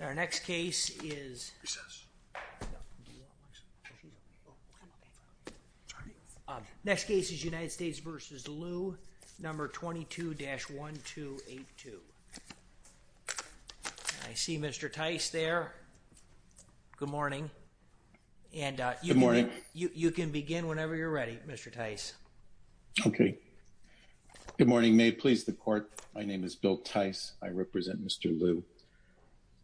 Our next case is United States v. Liu, number 22-1282. I see Mr. Tice there. Good morning. Good morning. You can begin whenever you're ready, Mr. Tice. Okay. Good morning. May it please the court, my name is Bill Tice. I represent Mr. Liu.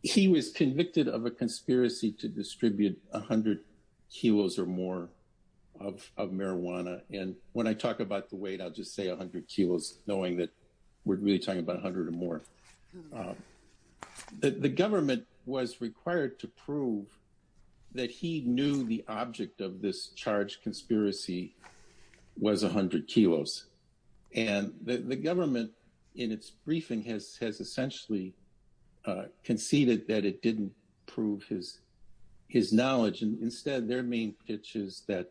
He was convicted of a conspiracy to distribute 100 kilos or more of marijuana. And when I talk about the weight, I'll just say 100 kilos, knowing that we're really talking about 100 or more. The government was required to prove that he knew the object of this charged conceded that it didn't prove his knowledge. And instead, their main pitch is that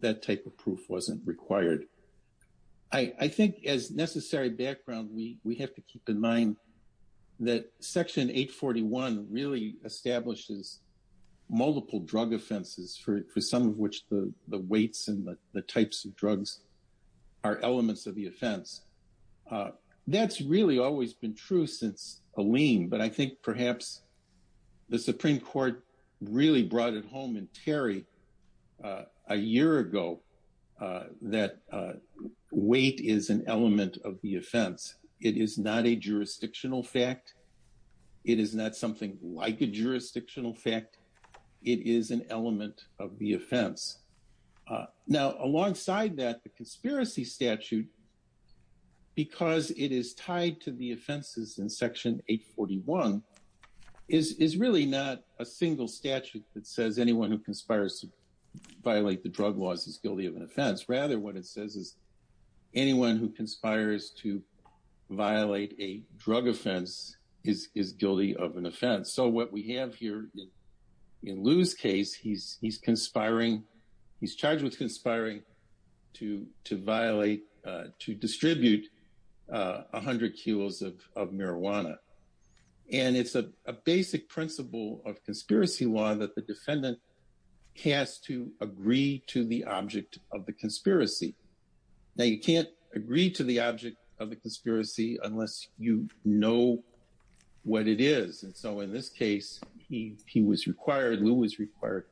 that type of proof wasn't required. I think as necessary background, we have to keep in mind that Section 841 really establishes multiple drug offenses for some of which the weights and types of drugs are elements of the offense. That's really always been true since a lien, but I think perhaps the Supreme Court really brought it home in Terry a year ago, that weight is an element of the offense. It is not a jurisdictional fact. It is not like a jurisdictional fact. It is an element of the offense. Now, alongside that, the conspiracy statute, because it is tied to the offenses in Section 841, is really not a single statute that says anyone who conspires to violate the drug laws is guilty of an offense. Rather, what it says is violate a drug offense is guilty of an offense. So what we have here in Lou's case, he's conspiring, he's charged with conspiring to violate, to distribute 100 kilos of marijuana. And it's a basic principle of conspiracy law that the defendant has to agree to the object of the conspiracy. Now, you can't agree to the object of the conspiracy unless you know what it is. And so in this case, he was required, Lou was required,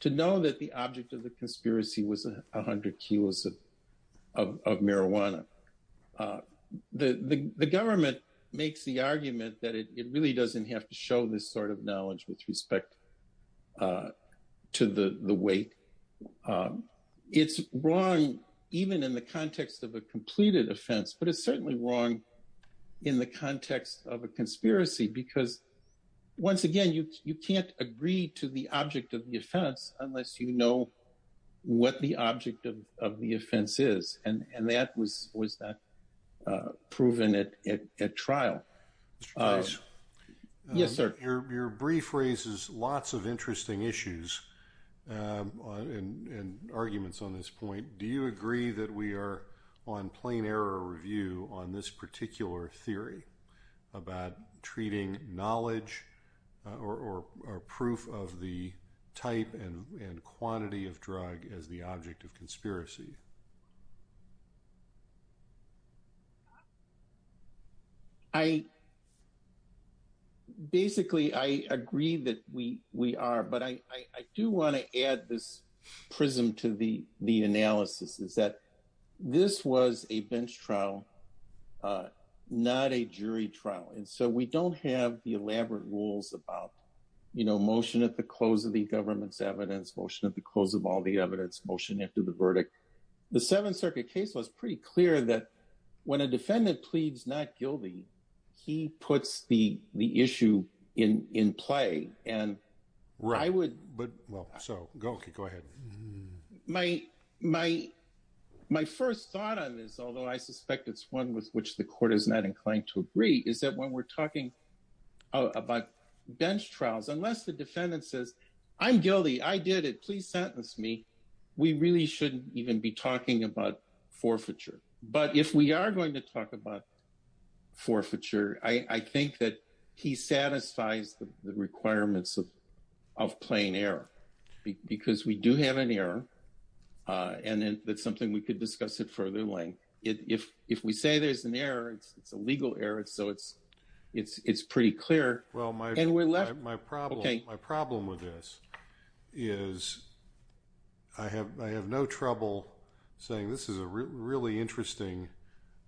to know that the object of the conspiracy was 100 kilos of marijuana. The government makes the argument that it really doesn't have to show this sort of knowledge with respect to the weight. It's wrong even in the context of a completed offense, but it's certainly wrong in the context of a conspiracy because, once again, you can't agree to the object of the offense unless you know what the object of the offense is. And that was not proven at trial. Mr. Toews. Yes, sir. Your brief raises lots of interesting issues and arguments on this point. Do you agree that we are on plain error review on this particular theory about treating knowledge or proof of the type and quantity of drug as the object of conspiracy? Basically, I agree that we are, but I do want to add this prism to the analysis, is that this was a bench trial, not a jury trial. And so we don't have the elaborate rules about, you know, motion at the close of the government's evidence, motion at the close of all the evidence, motion after the verdict. The Seventh Circuit case was pretty clear that when a defendant pleads not guilty, he puts the issue in play. My first thought on this, although I suspect it's one with which the court is not inclined to agree, is that when we're talking about bench trials, unless the defendant says, I'm guilty, I did it, please sentence me, we really shouldn't even be forfeiture, I think that he satisfies the requirements of plain error. Because we do have an error, and that's something we could discuss at further length. If we say there's an error, it's a legal error, so it's pretty clear. Well, my problem with this is I have no trouble saying this is a really interesting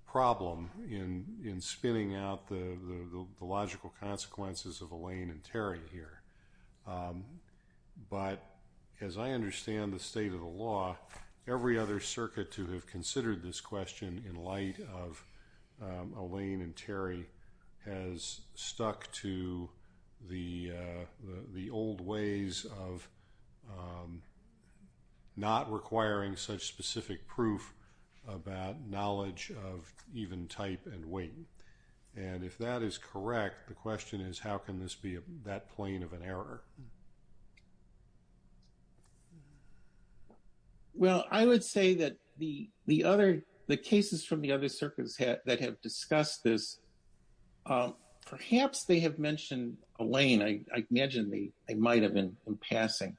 problem in spinning out the logical consequences of Alain and Terry here. But as I understand the state of the law, every other circuit to have considered this question in light of Alain and Terry has stuck to the old ways of not requiring such specific proof about knowledge of even type and weight. And if that is correct, the question is, how can this be that plain of an error? Well, I would say that the cases from the other circuits that have discussed this, perhaps they have mentioned Alain, I imagine they might have in passing.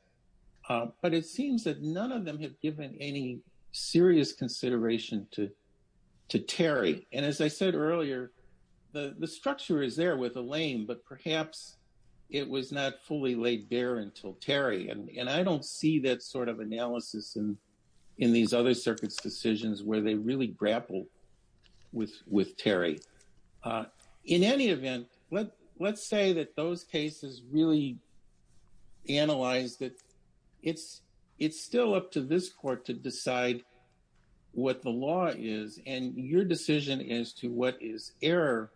But it seems that none of them have given any serious consideration to Terry. And as I said earlier, the structure is there with Alain, but perhaps it was not fully laid bare until Terry. And I don't see that sort of analysis in these other circuits' decisions where they really grapple with Terry. In any event, let's say that those cases really analyze that it's still up to this court to decide what the law is and your decision as to what is error.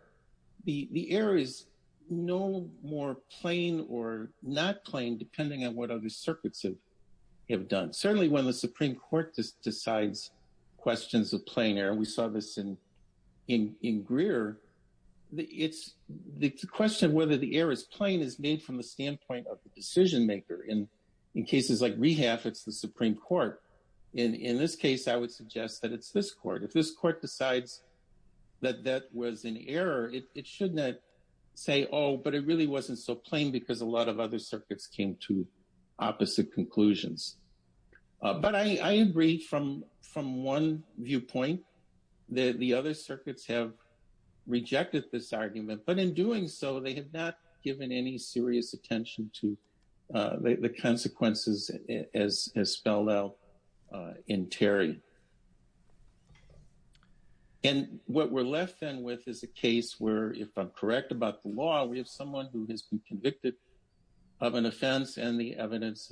The error is no more plain or not plain depending on what other circuits have done. Certainly, when the Supreme Court decides questions of plain error, we saw this in Greer, the question whether the error is plain is made from the standpoint of the decision-maker. In cases like Rehaf, it's the Supreme Court. In this case, I would suggest that it's this court. If this court decides that that was an error, it should not say, oh, but it really wasn't so plain because a lot of other circuits came to opposite conclusions. But I agree from one viewpoint that the other circuits have rejected this argument. But in doing so, they have not given any serious attention to the consequences as spelled out in Terry. And what we're left then with is a case where, if I'm correct about the law, we have someone who has been convicted of an offense and the evidence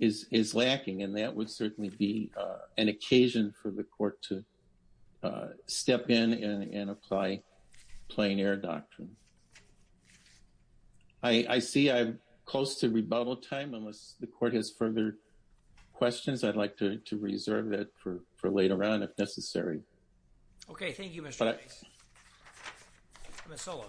is lacking, and that would certainly be an occasion for the court to step in and apply plain error doctrine. I see I'm close to rebuttal time. Unless the court has further questions, I'd like to reserve that for later on if necessary. Okay. Thank you, Mr. Bates. Ms. Sullivan.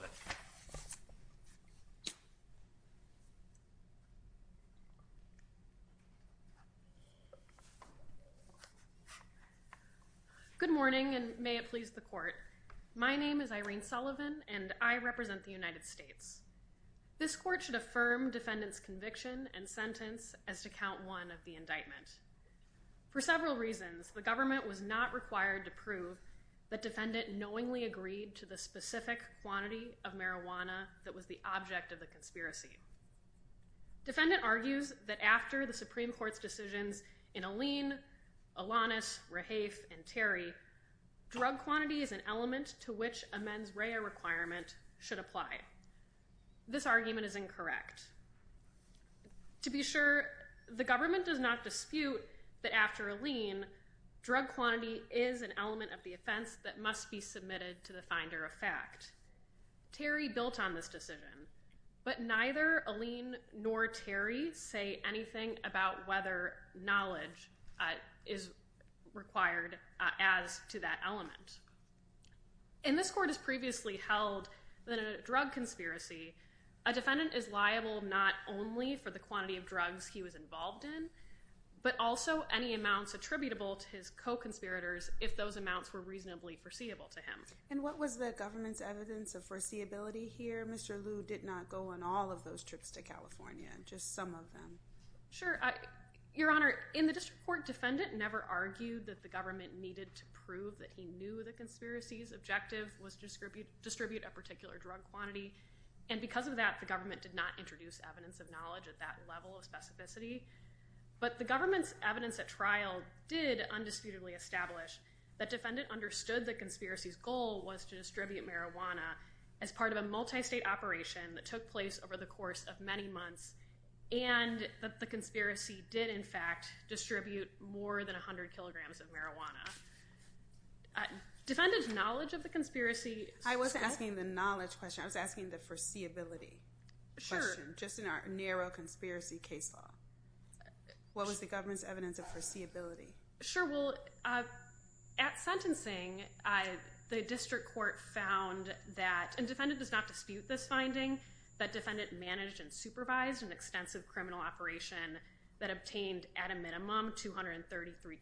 Good morning, and may it please the court. My name is Irene Sullivan, and I represent the United States. This court should affirm defendant's conviction and sentence as to count one of the that defendant knowingly agreed to the specific quantity of marijuana that was the object of the conspiracy. Defendant argues that after the Supreme Court's decisions in Alleen, Alanis, Rahafe, and Terry, drug quantity is an element to which a mens rea requirement should apply. This argument is incorrect. To be sure, the government does not dispute that after Alleen, drug quantity is an element of the offense that must be submitted to the finder of fact. Terry built on this decision, but neither Alleen nor Terry say anything about whether knowledge is required as to that element. In this court has previously held that a drug conspiracy, a defendant is liable not only for the quantity of drugs he was involved in, but also any amounts attributable to his co-conspirators if those amounts were reasonably foreseeable to him. And what was the government's evidence of foreseeability here? Mr. Liu did not go on all of those trips to California, just some of them. Sure. Your Honor, in the district court, defendant never argued that the government needed to prove that he knew the conspiracy's objective was to distribute a particular drug quantity, and because of that, the government did not introduce evidence of knowledge at that level of specificity. But the government's evidence at trial did undisputedly establish that defendant understood the conspiracy's goal was to distribute marijuana as part of a multi-state operation that took place over the course of many months, and that the conspiracy did, in fact, distribute more than 100 kilograms of marijuana. Defendant's knowledge of the conspiracy... I wasn't asking the knowledge question. I was asking the foreseeability question, just in our narrow conspiracy case law. What was the government's evidence of foreseeability? Sure. Well, at sentencing, the district court found that, and defendant does not dispute this finding, that defendant managed and supervised an extensive criminal operation that obtained, at a minimum, 233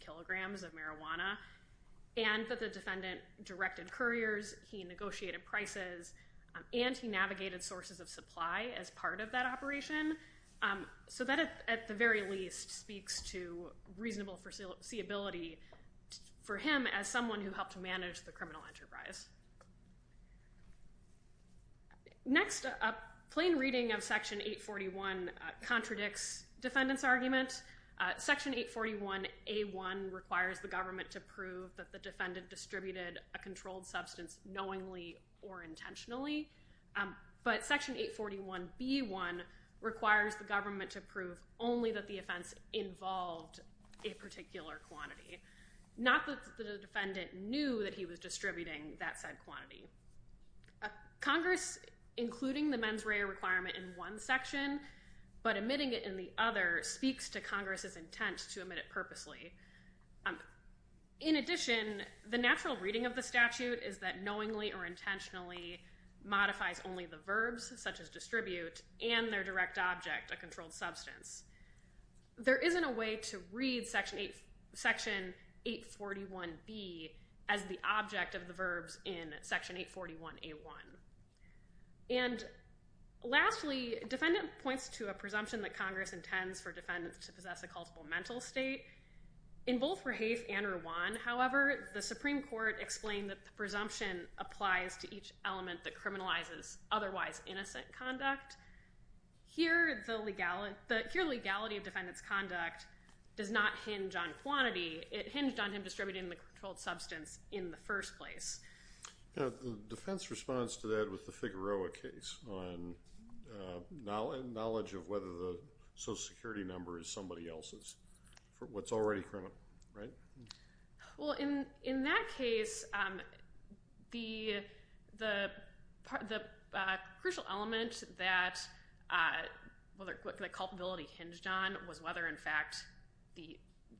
anti-navigated sources of supply as part of that operation. So that, at the very least, speaks to reasonable foreseeability for him as someone who helped manage the criminal enterprise. Next, a plain reading of Section 841 contradicts defendant's argument. Section 841A1 requires the government to prove that the defendant distributed a controlled substance knowingly or intentionally, but Section 841B1 requires the government to prove only that the offense involved a particular quantity, not that the defendant knew that he was distributing that said quantity. Congress, including the mens rea requirement in one section, but omitting it in the other, speaks to Congress's intent to omit it purposely. In addition, the natural reading of the statute is that knowingly or intentionally modifies only the verbs, such as distribute, and their direct object, a controlled substance. There isn't a way to read Section 841B as the object of the verbs in Section 841A1. And lastly, defendant points to a presumption that Congress intends for defendants to possess a culpable mental state. In both Rahaf and Rwan, however, the Supreme Court explained that the presumption applies to each element that criminalizes otherwise innocent conduct. Here, the legality of defendant's conduct does not hinge on quantity. It hinged on him distributing the controlled substance in the first place. The defense responds to that with the Figueroa case on knowledge of whether the social security number is somebody else's for what's already criminal, right? Well, in that case, the crucial element that the culpability hinged on was whether, in fact, the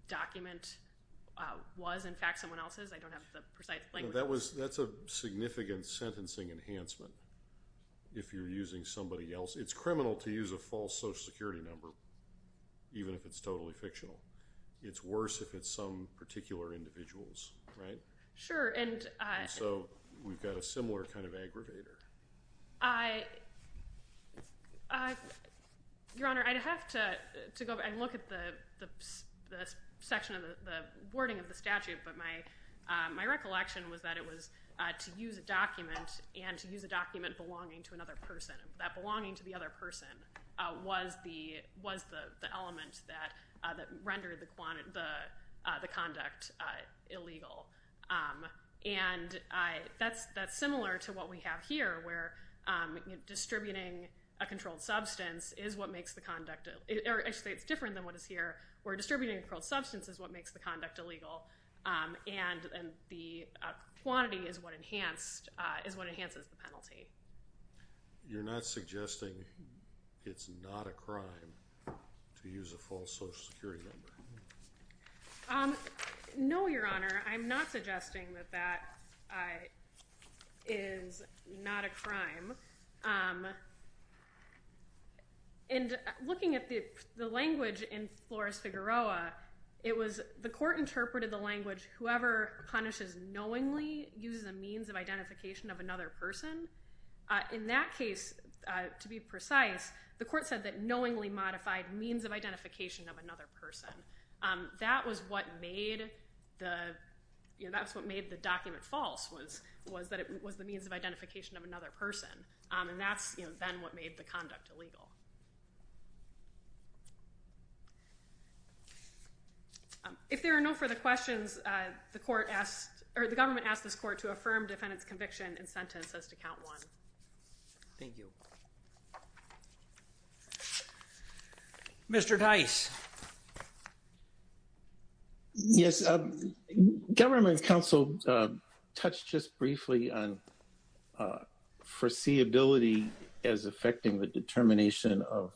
document was, in fact, someone else's. I don't have the precise language. That's a significant sentencing enhancement if you're using somebody else. It's criminal to use a false social security number, even if it's totally fictional. It's worse if it's some particular individuals, right? Sure. And so we've got a similar kind of aggravator. Your Honor, I'd have to go and look at the section of the wording of the statute, but my recollection was that it was to use a document and to use a document belonging to another person. That belonging to the other person was the element that rendered the conduct illegal. And that's similar to what we have here, where distributing a controlled substance is what makes the conduct—actually, it's different than what is here, where distributing a controlled substance is what makes the conduct illegal. And the quantity is what enhances the penalty. You're not suggesting it's not a crime to use a false social security number? No, Your Honor. I'm not suggesting that that is not a crime. And looking at the language in Flores-Figueroa, it was—the court interpreted the language, whoever punishes knowingly uses a means of identification of another person. In that case, to be precise, the court said that knowingly modified means of identification of another person. That was what made the—that's what made the document false, was that it was the means of identification of another person. And that's then what made the conduct illegal. If there are no further questions, the court asked—or the government asked this court to affirm defendant's conviction and sentence as to count one. Thank you. Mr. Dice. Yes. Government counsel touched just briefly on foreseeability as affecting the determination of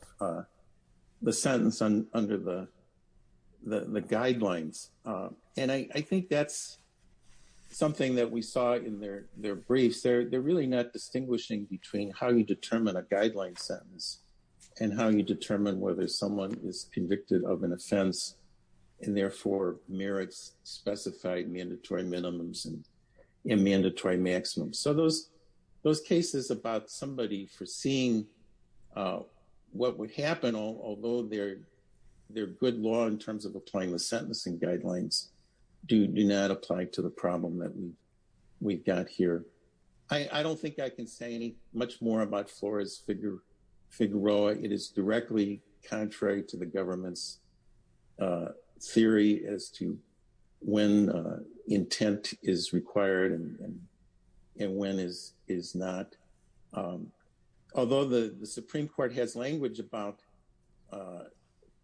the sentence under the guidelines. And I think that's something that we saw in their briefs. They're really not distinguishing between how you determine a guideline sentence and how you determine whether someone is convicted of an offense and therefore merits specified mandatory minimums and mandatory maximums. So those cases about somebody foreseeing what would happen, although they're good law in terms of applying the sentencing guidelines, do not apply to the problem that we've got here. I don't think I can say much more about Flores-Figueroa. It is directly contrary to the government's theory as to when intent is required and when is not. Although the Supreme Court has language about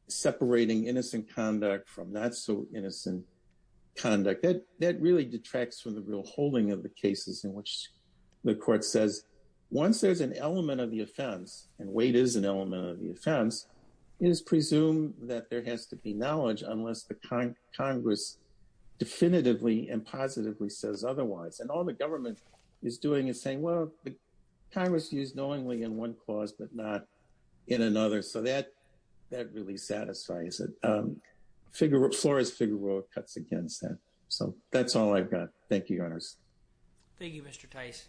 separating innocent conduct from not-so-innocent conduct, that really detracts from the real holding of the cases in which the court says, once there's an element of the offense, and weight is an element of the offense, it is presumed that there has to be knowledge unless the Congress definitively and positively says otherwise. And all the government is doing is saying, well, Congress used knowingly in one but not in another. So that really satisfies it. Flores-Figueroa cuts against that. So that's all I've got. Thank you, Your Honors. Thank you, Mr. Tice.